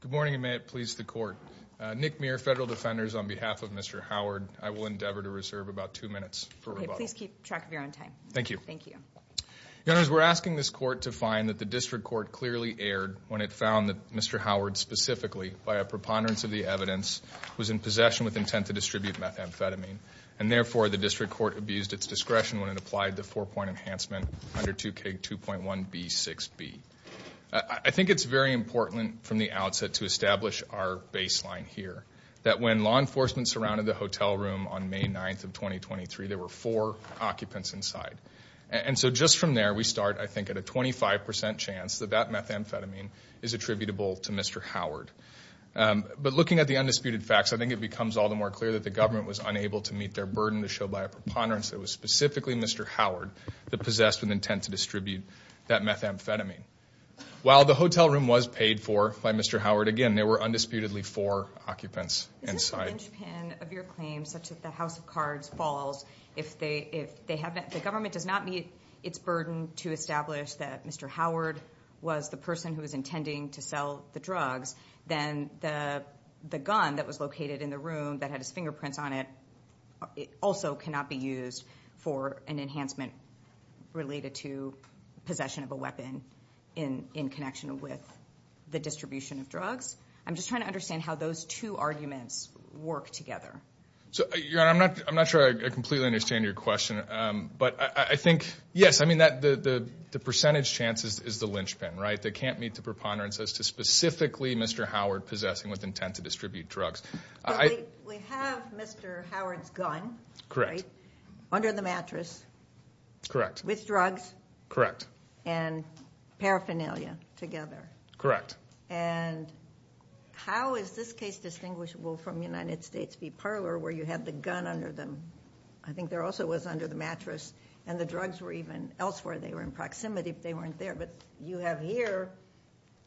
Good morning, and may it please the court. Nick Muir, Federal Defenders, on behalf of Mr. Howard, I will endeavor to reserve about two minutes for rebuttal. Okay, please keep track of your own time. Thank you. Thank you. We're asking this court to find that the district court clearly erred when it found that Mr. Howard specifically, by a preponderance of the evidence, was in possession with intent to distribute methamphetamine, and therefore the district court abused its discretion when it applied the four-point enhancement under 2K2.1B6B. I think it's very important from the outset to establish our baseline here, that when law enforcement surrounded the hotel room on May 9th of 2023, there were four occupants inside. And so just from there, we start, I think, at a 25% chance that that methamphetamine is attributable to Mr. Howard. But looking at the undisputed facts, I think it becomes all the more clear that the government was unable to meet their burden to show by a preponderance that it was specifically Mr. Howard that possessed with intent to distribute that methamphetamine. While the hotel room was paid for by Mr. Howard, again, there were undisputedly four occupants inside. Is this a linchpin of your claim such that the House of Cards falls if they have not, if the government does not meet its burden to establish that Mr. Howard was the person who was intending to sell the drugs, then the gun that was located in the room that had his fingerprints on it also cannot be used for an enhancement related to possession of a weapon in connection with the distribution of drugs? I'm just trying to understand how those two arguments work together. So, Your Honor, I'm not sure I completely understand your question. But I think, yes, I mean, the percentage chance is the linchpin, right? They can't meet the preponderance as to specifically Mr. Howard possessing with intent to distribute drugs. We have Mr. Howard's gun. Under the mattress. Correct. With drugs. And paraphernalia together. And how is this case distinguishable from United States v. Parler where you have the gun under the, I think there also was under the mattress, and the drugs were even elsewhere, they were in proximity if they weren't there. But you have here,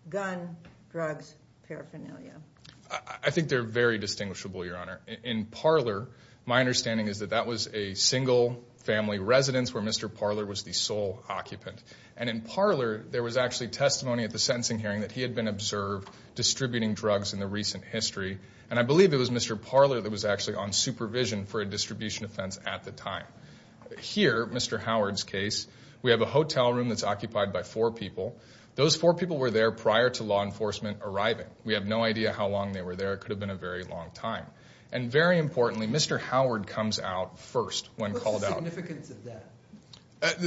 gun, drugs, paraphernalia. I think they're very distinguishable, Your Honor. In Parler, my understanding is that that was a single family residence where Mr. Parler was the sole occupant. And in Parler, there was actually testimony at the sentencing hearing that he had been observed distributing drugs in the recent history. And I believe it was Mr. Parler that was actually on supervision for a distribution offense at the time. Here, Mr. Howard's case, we have a hotel room that's occupied by four people. Those four people were there prior to law enforcement arriving. We have no idea how long they were there. It could have been a very long time. And very importantly, Mr. Howard comes out first when called out. What's the significance of that?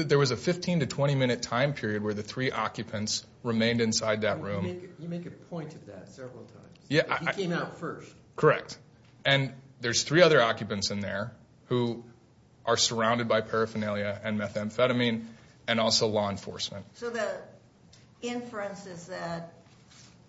There was a 15 to 20 minute time period where the three occupants remained inside that room. You make a point of that several times. He came out first. Correct. And there's three other occupants in there who are surrounded by paraphernalia and methamphetamine and also law enforcement. So the inference is that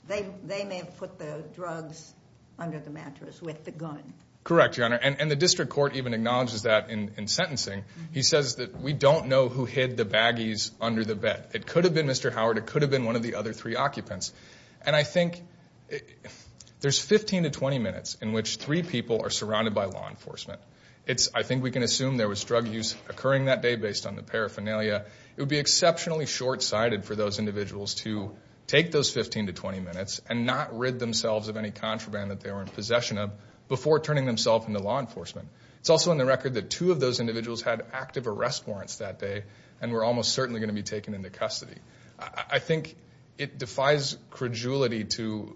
they may have put the drugs under the mattress with the gun. Correct, Your Honor. And the district court even acknowledges that in sentencing. He says that we don't know who hid the baggies under the bed. It could have been Mr. Howard. It could have been one of the other three occupants. And I think there's 15 to 20 minutes in which three people are surrounded by law enforcement. I think we can assume there was drug use occurring that day based on the paraphernalia. It would be exceptionally short-sighted for those individuals to take those 15 to 20 minutes and not rid themselves of any contraband that they were in possession of before turning themselves into law enforcement. It's also on the record that two of those individuals had active arrest warrants that day and were almost certainly going to be taken into custody. I think it defies credulity to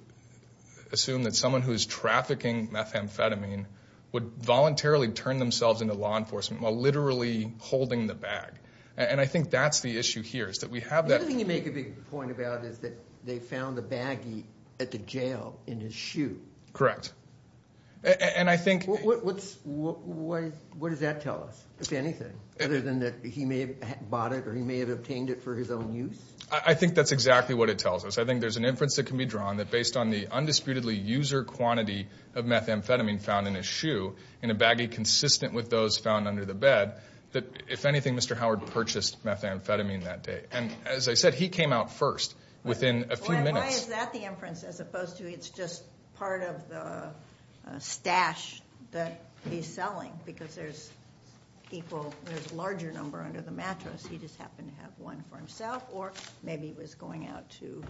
assume that someone who is trafficking methamphetamine would voluntarily turn themselves into law enforcement while literally holding the bag. And I think that's the issue here is that we have that. The other thing you make a big point about is that they found the baggie at the jail in his shoe. Correct. And I think. What does that tell us, if anything? Other than that he may have bought it or he may have obtained it for his own use? I think that's exactly what it tells us. I think there's an inference that can be drawn that based on the undisputedly user quantity of methamphetamine found in his shoe in a baggie consistent with those found under the bed, that if anything, Mr. Howard purchased methamphetamine that day. And as I said, he came out first within a few minutes. Why is that the inference as opposed to it's just part of the stash that he's selling because there's people, there's a larger number under the mattress. He just happened to have one for himself or maybe he was going out to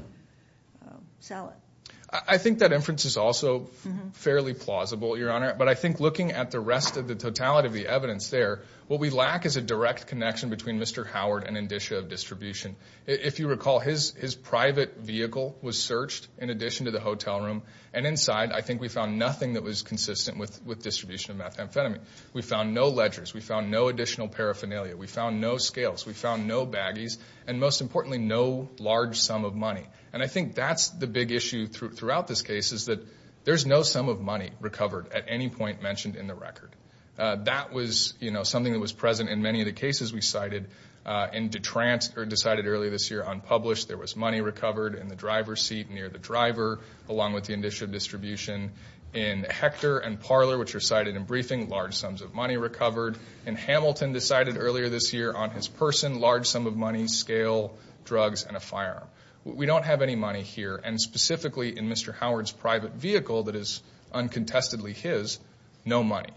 sell it. I think that inference is also fairly plausible, Your Honor, but I think looking at the rest of the totality of the evidence there, what we lack is a direct connection between Mr. Howard and indicia of distribution. If you recall, his private vehicle was searched in addition to the hotel room, and inside I think we found nothing that was consistent with distribution of methamphetamine. We found no ledgers. We found no additional paraphernalia. We found no scales. We found no baggies. And most importantly, no large sum of money. And I think that's the big issue throughout this case is that there's no sum of money recovered at any point mentioned in the record. That was something that was present in many of the cases we cited. In DeTrance, or decided earlier this year, unpublished, there was money recovered in the driver's seat near the driver along with the indicia of distribution. In Hector and Parler, which are cited in briefing, large sums of money recovered. In Hamilton, decided earlier this year, on his person, large sum of money, scale, drugs, and a firearm. We don't have any money here. And specifically in Mr. Howard's private vehicle that is uncontestedly his, no money.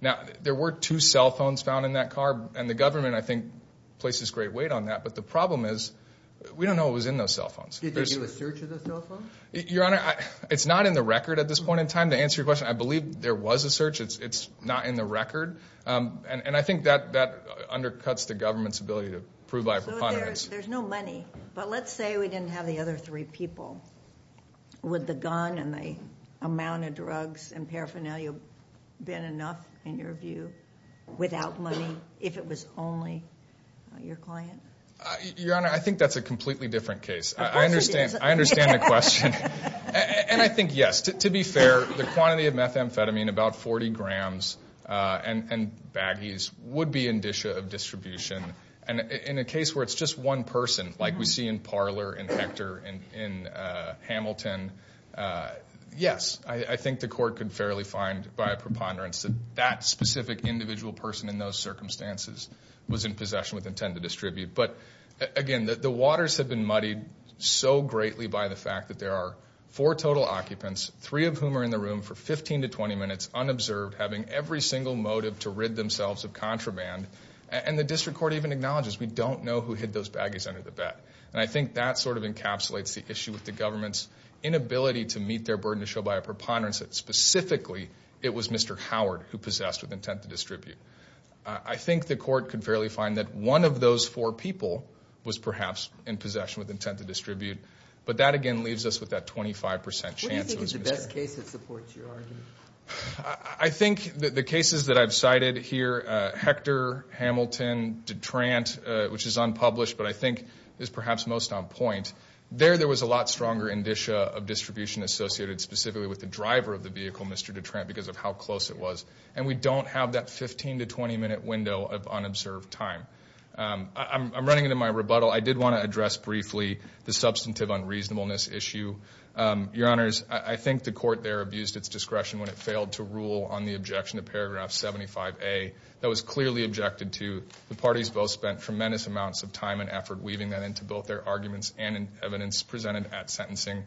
Now, there were two cell phones found in that car, and the government, I think, places great weight on that. But the problem is, we don't know what was in those cell phones. Did they do a search of those cell phones? Your Honor, it's not in the record at this point in time. To answer your question, I believe there was a search. It's not in the record. And I think that undercuts the government's ability to prove by a preponderance. So there's no money. But let's say we didn't have the other three people. Would the gun and the amount of drugs and paraphernalia have been enough, in your view, without money, if it was only your client? Your Honor, I think that's a completely different case. Of course it is. I understand the question. And I think, yes, to be fair, the quantity of methamphetamine, about 40 grams and baggies, would be in discha of distribution. And in a case where it's just one person, like we see in Parler and Hector and in Hamilton, yes. I think the court could fairly find by a preponderance that that specific individual person in those circumstances was in possession with intent to distribute. But, again, the waters have been muddied so greatly by the fact that there are four total occupants, three of whom are in the room for 15 to 20 minutes unobserved, having every single motive to rid themselves of contraband. And the district court even acknowledges we don't know who hid those baggies under the bed. And I think that sort of encapsulates the issue with the government's inability to meet their burden to show by a preponderance that, specifically, it was Mr. Howard who possessed with intent to distribute. I think the court could fairly find that one of those four people was perhaps in possession with intent to distribute. But that, again, leaves us with that 25% chance it was Mr. Howard. What do you think is the best case that supports your argument? I think the cases that I've cited here, Hector, Hamilton, Detrant, which is unpublished but I think is perhaps most on point, there there was a lot stronger indicia of distribution associated specifically with the driver of the vehicle, Mr. Detrant, because of how close it was. And we don't have that 15 to 20-minute window of unobserved time. I'm running into my rebuttal. I did want to address briefly the substantive unreasonableness issue. Your Honors, I think the court there abused its discretion when it failed to rule on the objection to paragraph 75A. That was clearly objected to. The parties both spent tremendous amounts of time and effort weaving that into both their arguments and in evidence presented at sentencing.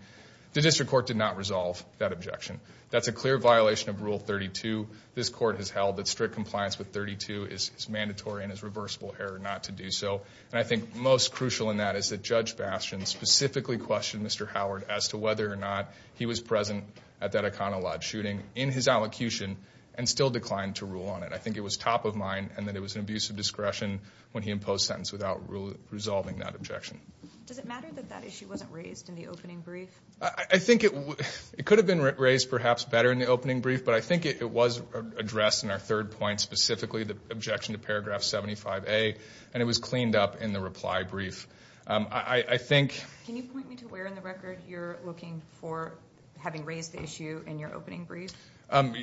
The district court did not resolve that objection. That's a clear violation of Rule 32. This court has held that strict compliance with 32 is mandatory and is reversible error not to do so. And I think most crucial in that is that Judge Bastian specifically questioned Mr. Howard as to whether or not he was present at that Iconolodge shooting in his allocution and still declined to rule on it. I think it was top of mind and that it was an abuse of discretion when he imposed sentence without resolving that objection. Does it matter that that issue wasn't raised in the opening brief? I think it could have been raised perhaps better in the opening brief, but I think it was addressed in our third point specifically, the objection to paragraph 75A. And it was cleaned up in the reply brief. I think... Can you point me to where in the record you're looking for having raised the issue in your opening brief?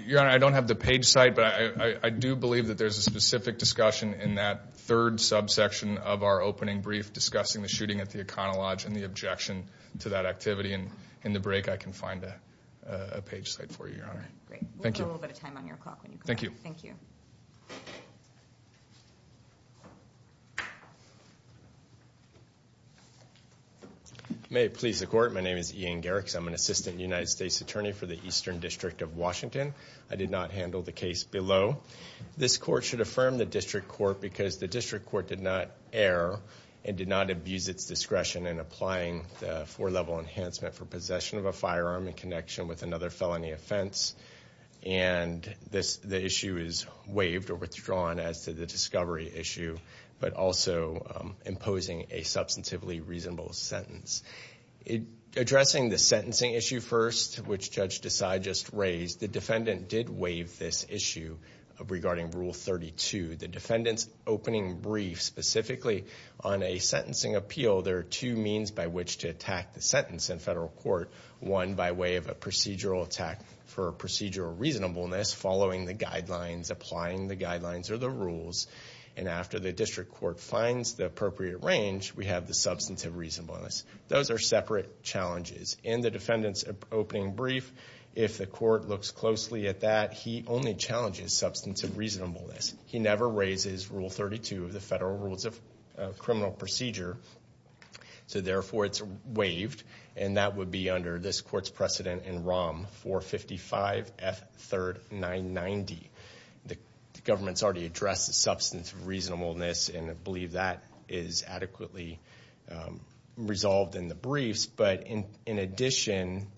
Your Honor, I don't have the page site, but I do believe that there's a specific discussion in that third subsection of our opening brief discussing the shooting at the Iconolodge and the objection to that activity. And in the break, I can find a page site for you, Your Honor. Great. We'll do a little bit of time on your clock when you come back. Thank you. Thank you. May it please the Court. My name is Ian Garrix. I'm an Assistant United States Attorney for the Eastern District of Washington. I did not handle the case below. This Court should affirm the District Court because the District Court did not err and did not abuse its discretion in applying the four-level enhancement for possession of a firearm in connection with another felony offense. And the issue is waived or withdrawn as to the discovery issue, but also imposing a substantively reasonable sentence. Addressing the sentencing issue first, which Judge Desai just raised, the defendant did waive this issue regarding Rule 32. The defendant's opening brief specifically on a sentencing appeal, there are two means by which to attack the sentence in federal court. One, by way of a procedural attack for procedural reasonableness, following the guidelines, applying the guidelines or the rules, and after the District Court finds the appropriate range, we have the substantive reasonableness. Those are separate challenges. In the defendant's opening brief, if the court looks closely at that, he only challenges substantive reasonableness. He never raises Rule 32 of the Federal Rules of Criminal Procedure, so therefore it's waived, and that would be under this court's precedent in ROM 455 F3rd 990. The government's already addressed the substantive reasonableness and I believe that is adequately resolved in the briefs. But in addition,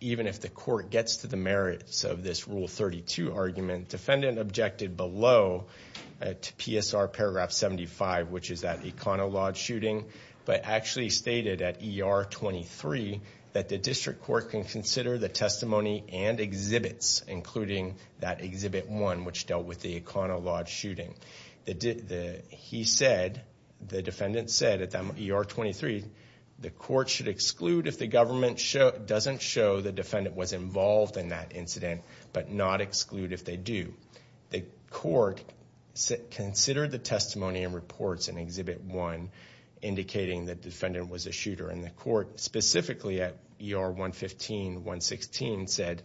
even if the court gets to the merits of this Rule 32 argument, the defendant objected below to PSR Paragraph 75, which is that econo-lawed shooting, but actually stated at ER 23 that the District Court can consider the testimony and exhibits, including that Exhibit 1, which dealt with the econo-lawed shooting. He said, the defendant said at ER 23, the court should exclude if the government doesn't show the defendant was involved in that incident, but not exclude if they do. The court considered the testimony and reports in Exhibit 1, indicating that the defendant was a shooter, and the court specifically at ER 115-116 said,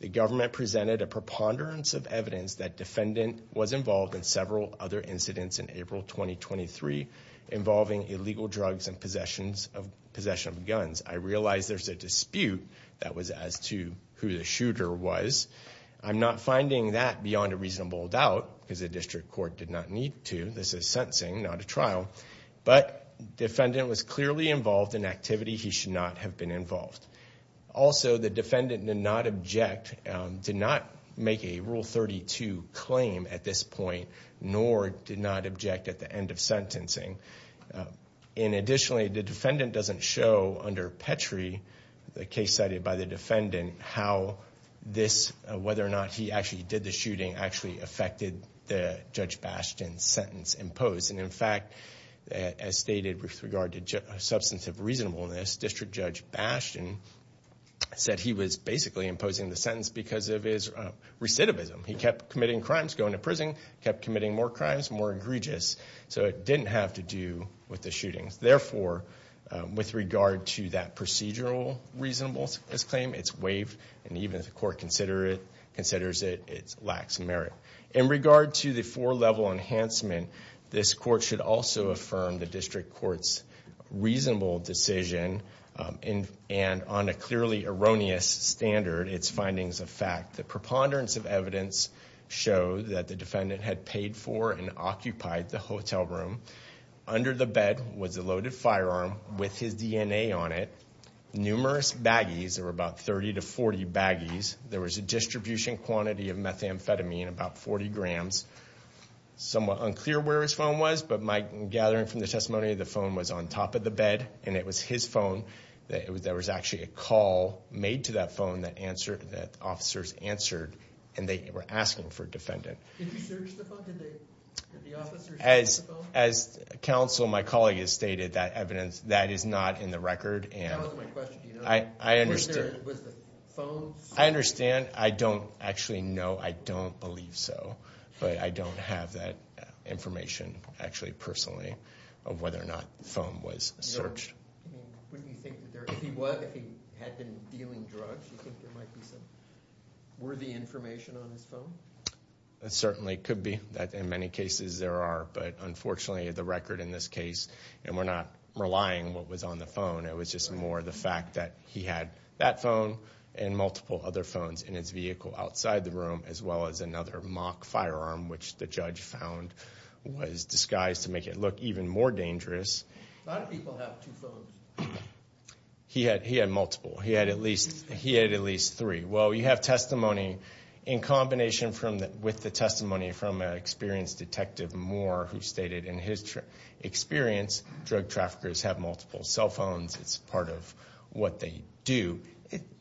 the government presented a preponderance of evidence that the defendant was involved in several other incidents in April 2023 involving illegal drugs and possession of guns. I realize there's a dispute that was as to who the shooter was. I'm not finding that beyond a reasonable doubt because the District Court did not need to. This is sentencing, not a trial. But the defendant was clearly involved in activity he should not have been involved. Also, the defendant did not object, did not make a Rule 32 claim at this point, nor did not object at the end of sentencing. Additionally, the defendant doesn't show under Petrie, the case cited by the defendant, how this, whether or not he actually did the shooting, actually affected Judge Bastian's sentence imposed. In fact, as stated with regard to substantive reasonableness, District Judge Bastian said he was basically imposing the sentence because of his recidivism. He kept committing crimes, going to prison, kept committing more crimes, more egregious. So it didn't have to do with the shootings. Therefore, with regard to that procedural reasonableness claim, it's waived. And even if the court considers it, it lacks merit. In regard to the four-level enhancement, this court should also affirm the District Court's reasonable decision, and on a clearly erroneous standard, its findings of fact. The preponderance of evidence showed that the defendant had paid for and occupied the hotel room. Under the bed was a loaded firearm with his DNA on it. Numerous baggies, there were about 30 to 40 baggies. There was a distribution quantity of methamphetamine, about 40 grams. Somewhat unclear where his phone was, but my gathering from the testimony, the phone was on top of the bed, and it was his phone. There was actually a call made to that phone that officers answered, and they were asking for a defendant. Did you search the phone? Did the officers search the phone? As counsel, my colleague has stated, that evidence, that is not in the record. That wasn't my question. Do you know? I understand. Was the phone searched? I understand. I don't actually know. I don't believe so. But I don't have that information, actually, personally, of whether or not the phone was searched. I mean, wouldn't you think that there, if he was, if he had been dealing drugs, you think there might be some worthy information on his phone? It certainly could be, that in many cases there are. But unfortunately, the record in this case, and we're not relying what was on the phone, it was just more the fact that he had that phone and multiple other phones in his vehicle outside the room, as well as another mock firearm, which the judge found was disguised to make it look even more dangerous. A lot of people have two phones. He had multiple. He had at least three. Well, you have testimony in combination with the testimony from an experienced detective, Moore, who stated in his experience, drug traffickers have multiple cell phones. It's part of what they do.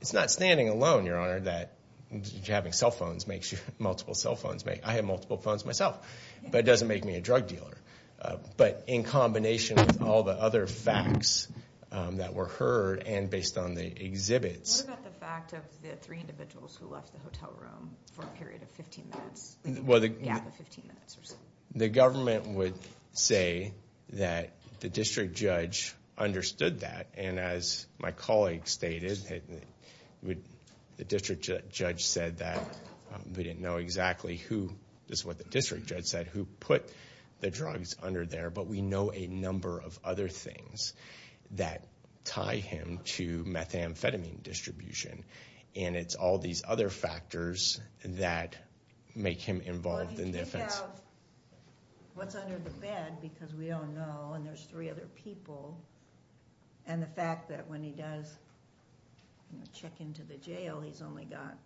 It's not standing alone, Your Honor, that having cell phones makes you, multiple cell phones. I have multiple phones myself, but it doesn't make me a drug dealer. But in combination with all the other facts that were heard and based on the exhibits. What about the fact of the three individuals who left the hotel room for a period of 15 minutes, a gap of 15 minutes or so? The government would say that the district judge understood that, and as my colleague stated, the district judge said that, we didn't know exactly who, this is what the district judge said, who put the drugs under there, but we know a number of other things that tie him to methamphetamine distribution. And it's all these other factors that make him involved in the offense. Well, he didn't have what's under the bed, because we don't know, and there's three other people. And the fact that when he does check into the jail, he's only got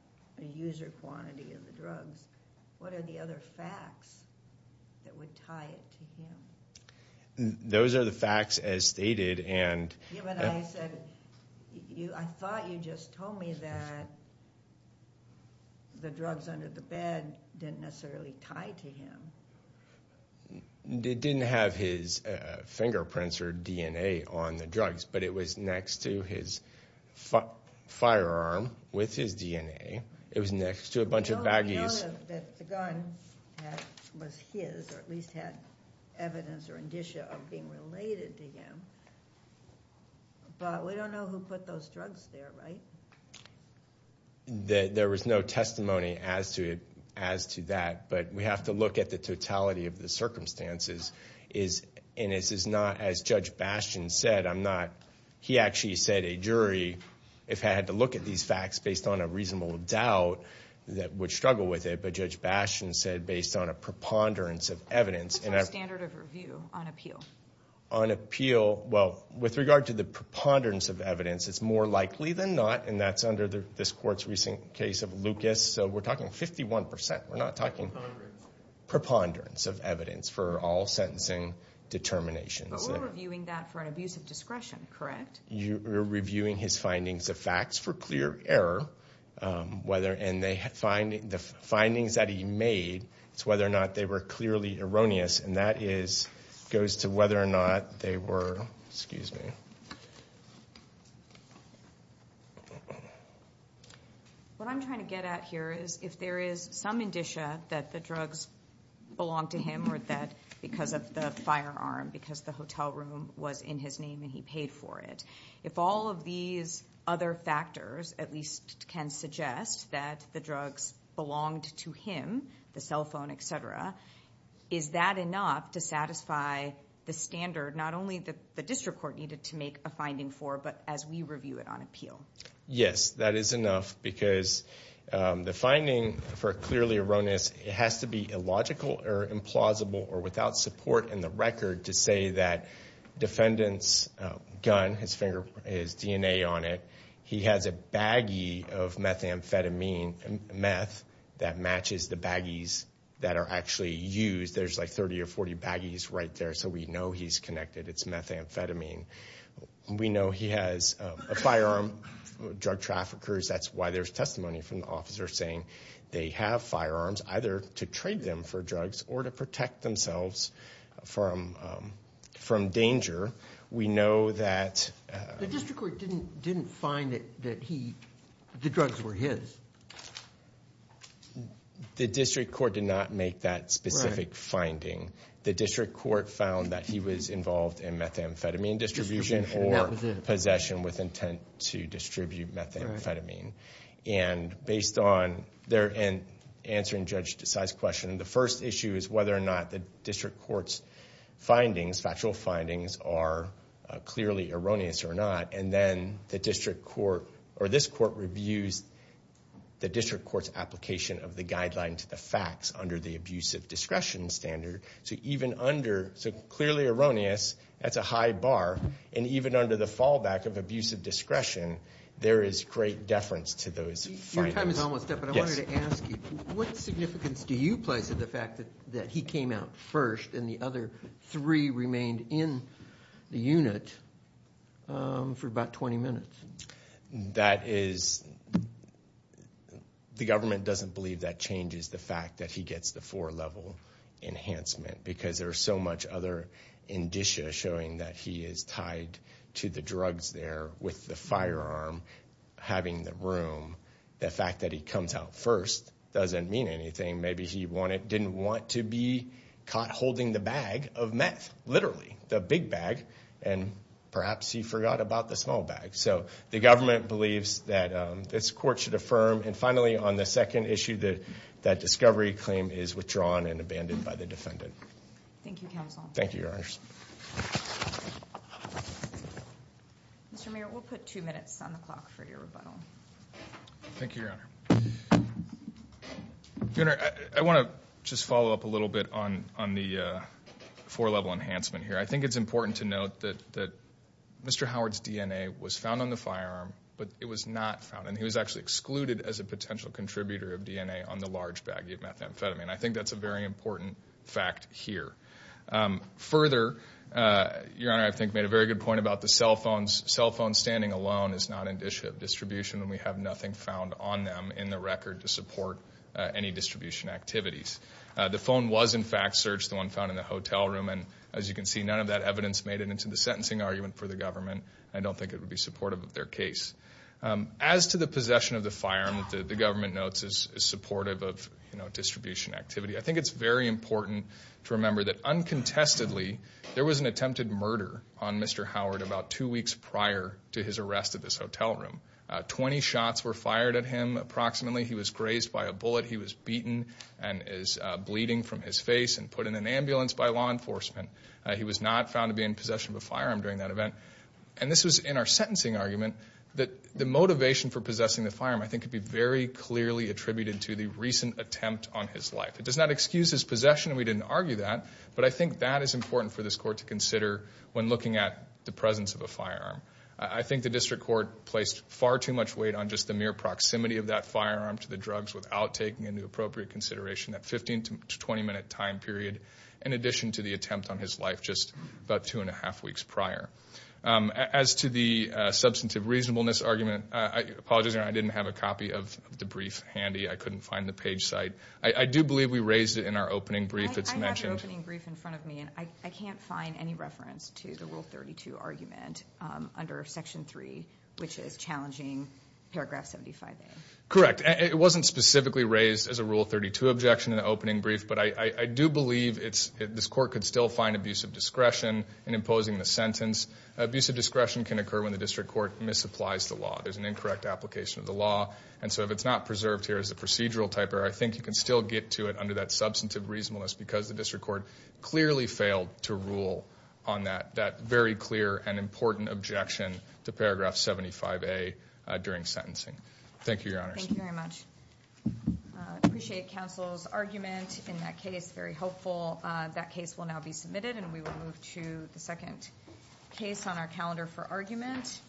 a user quantity of the drugs. What are the other facts that would tie it to him? Those are the facts as stated, and... Yeah, but I said, I thought you just told me that the drugs under the bed didn't necessarily tie to him. It didn't have his fingerprints or DNA on the drugs, but it was next to his firearm with his DNA. It was next to a bunch of baggies. We know that the gun was his, or at least had evidence or indicia of being related to him. But we don't know who put those drugs there, right? There was no testimony as to that, but we have to look at the totality of the circumstances. And this is not, as Judge Bastian said, I'm not... He actually said a jury, if I had to look at these facts based on a reasonable doubt, that would struggle with it. But Judge Bastian said, based on a preponderance of evidence... That's my standard of review on appeal. On appeal, well, with regard to the preponderance of evidence, it's more likely than not, and that's under this court's recent case of Lucas. So we're talking 51%. We're not talking... Preponderance. Preponderance of evidence for all sentencing determinations. But we're reviewing that for an abuse of discretion, correct? You're reviewing his findings of facts for clear error, and the findings that he made, it's whether or not they were clearly erroneous, and that goes to whether or not they were... Excuse me. What I'm trying to get at here is, if there is some indicia that the drugs belonged to him, or that because of the firearm, because the hotel room was in his name and he paid for it, if all of these other factors at least can suggest that the drugs belonged to him, the cell phone, et cetera, is that enough to satisfy the standard, not only that the district court needed to make a claim, a finding for, but as we review it on appeal? Yes, that is enough because the finding for clearly erroneous, it has to be illogical or implausible or without support in the record to say that defendant's gun, his fingerprint, his DNA on it, he has a baggie of methamphetamine, meth, that matches the baggies that are actually used. There's like 30 or 40 baggies right there, so we know he's connected, it's methamphetamine. We know he has a firearm, drug traffickers, that's why there's testimony from the officer saying they have firearms, either to trade them for drugs or to protect themselves from danger. We know that... The district court didn't find that the drugs were his. The district court did not make that specific finding. The district court found that he was involved in methamphetamine distribution or possession with intent to distribute methamphetamine. And based on their answer in Judge Desai's question, the first issue is whether or not the district court's findings, factual findings, are clearly erroneous or not, and then the district court or this court reviews the district court's application of the guideline to the facts under the abusive discretion standard. So even under, so clearly erroneous, that's a high bar, and even under the fallback of abusive discretion, there is great deference to those findings. Your time is almost up, but I wanted to ask you, what significance do you place to the fact that he came out first and the other three remained in the unit for about 20 minutes? That is... The government doesn't believe that changes the fact that he gets the four-level enhancement because there's so much other indicia showing that he is tied to the drugs there with the firearm having the room. The fact that he comes out first doesn't mean anything. Maybe he didn't want to be caught holding the bag of meth, literally, the big bag, and perhaps he forgot about the small bag. So the government believes that this court should affirm. And finally, on the second issue, that discovery claim is withdrawn and abandoned by the defendant. Thank you, counsel. Thank you, Your Honors. Mr. Mayor, we'll put two minutes on the clock for your rebuttal. Thank you, Your Honor. I want to just follow up a little bit on the four-level enhancement here. I think it's important to note that Mr. Howard's DNA was found on the firearm, but it was not found, and he was actually excluded as a potential contributor of DNA on the large baggie of methamphetamine. I think that's a very important fact here. Further, Your Honor, I think you made a very good point about the cell phones. Cell phone standing alone is not indicia of distribution, and we have nothing found on them in the record to support any distribution activities. The phone was, in fact, searched, the one found in the hotel room, and as you can see, none of that evidence made it into the sentencing argument for the government. I don't think it would be supportive of their case. As to the possession of the firearm that the government notes is supportive of distribution activity, I think it's very important to remember that uncontestedly there was an attempted murder on Mr. Howard about two weeks prior to his arrest at this hotel room. Twenty shots were fired at him approximately. He was grazed by a bullet. He was beaten and is bleeding from his face and put in an ambulance by law enforcement. He was not found to be in possession of a firearm during that event. And this was in our sentencing argument that the motivation for possessing the firearm, I think, could be very clearly attributed to the recent attempt on his life. It does not excuse his possession, and we didn't argue that, but I think that is important for this court to consider when looking at the presence of a firearm. I think the district court placed far too much weight on just the mere proximity of that firearm to the drugs without taking into appropriate consideration that 15- to 20-minute time period in addition to the attempt on his life just about two and a half weeks prior. As to the substantive reasonableness argument, I apologize. I didn't have a copy of the brief handy. I couldn't find the page site. I do believe we raised it in our opening brief. It's mentioned. I have the opening brief in front of me, and I can't find any reference to the Rule 32 argument under Section 3, which is challenging Paragraph 75A. Correct. It wasn't specifically raised as a Rule 32 objection in the opening brief, but I do believe this court could still find abusive discretion in imposing the sentence. Abusive discretion can occur when the district court misapplies the law. There's an incorrect application of the law, and so if it's not preserved here as a procedural type error, I think you can still get to it under that substantive reasonableness because the district court clearly failed to rule on that very clear and important objection to Paragraph 75A during sentencing. Thank you, Your Honors. Thank you very much. I appreciate counsel's argument in that case. Very helpful. That case will now be submitted, and we will move to the second case on our calendar for argument.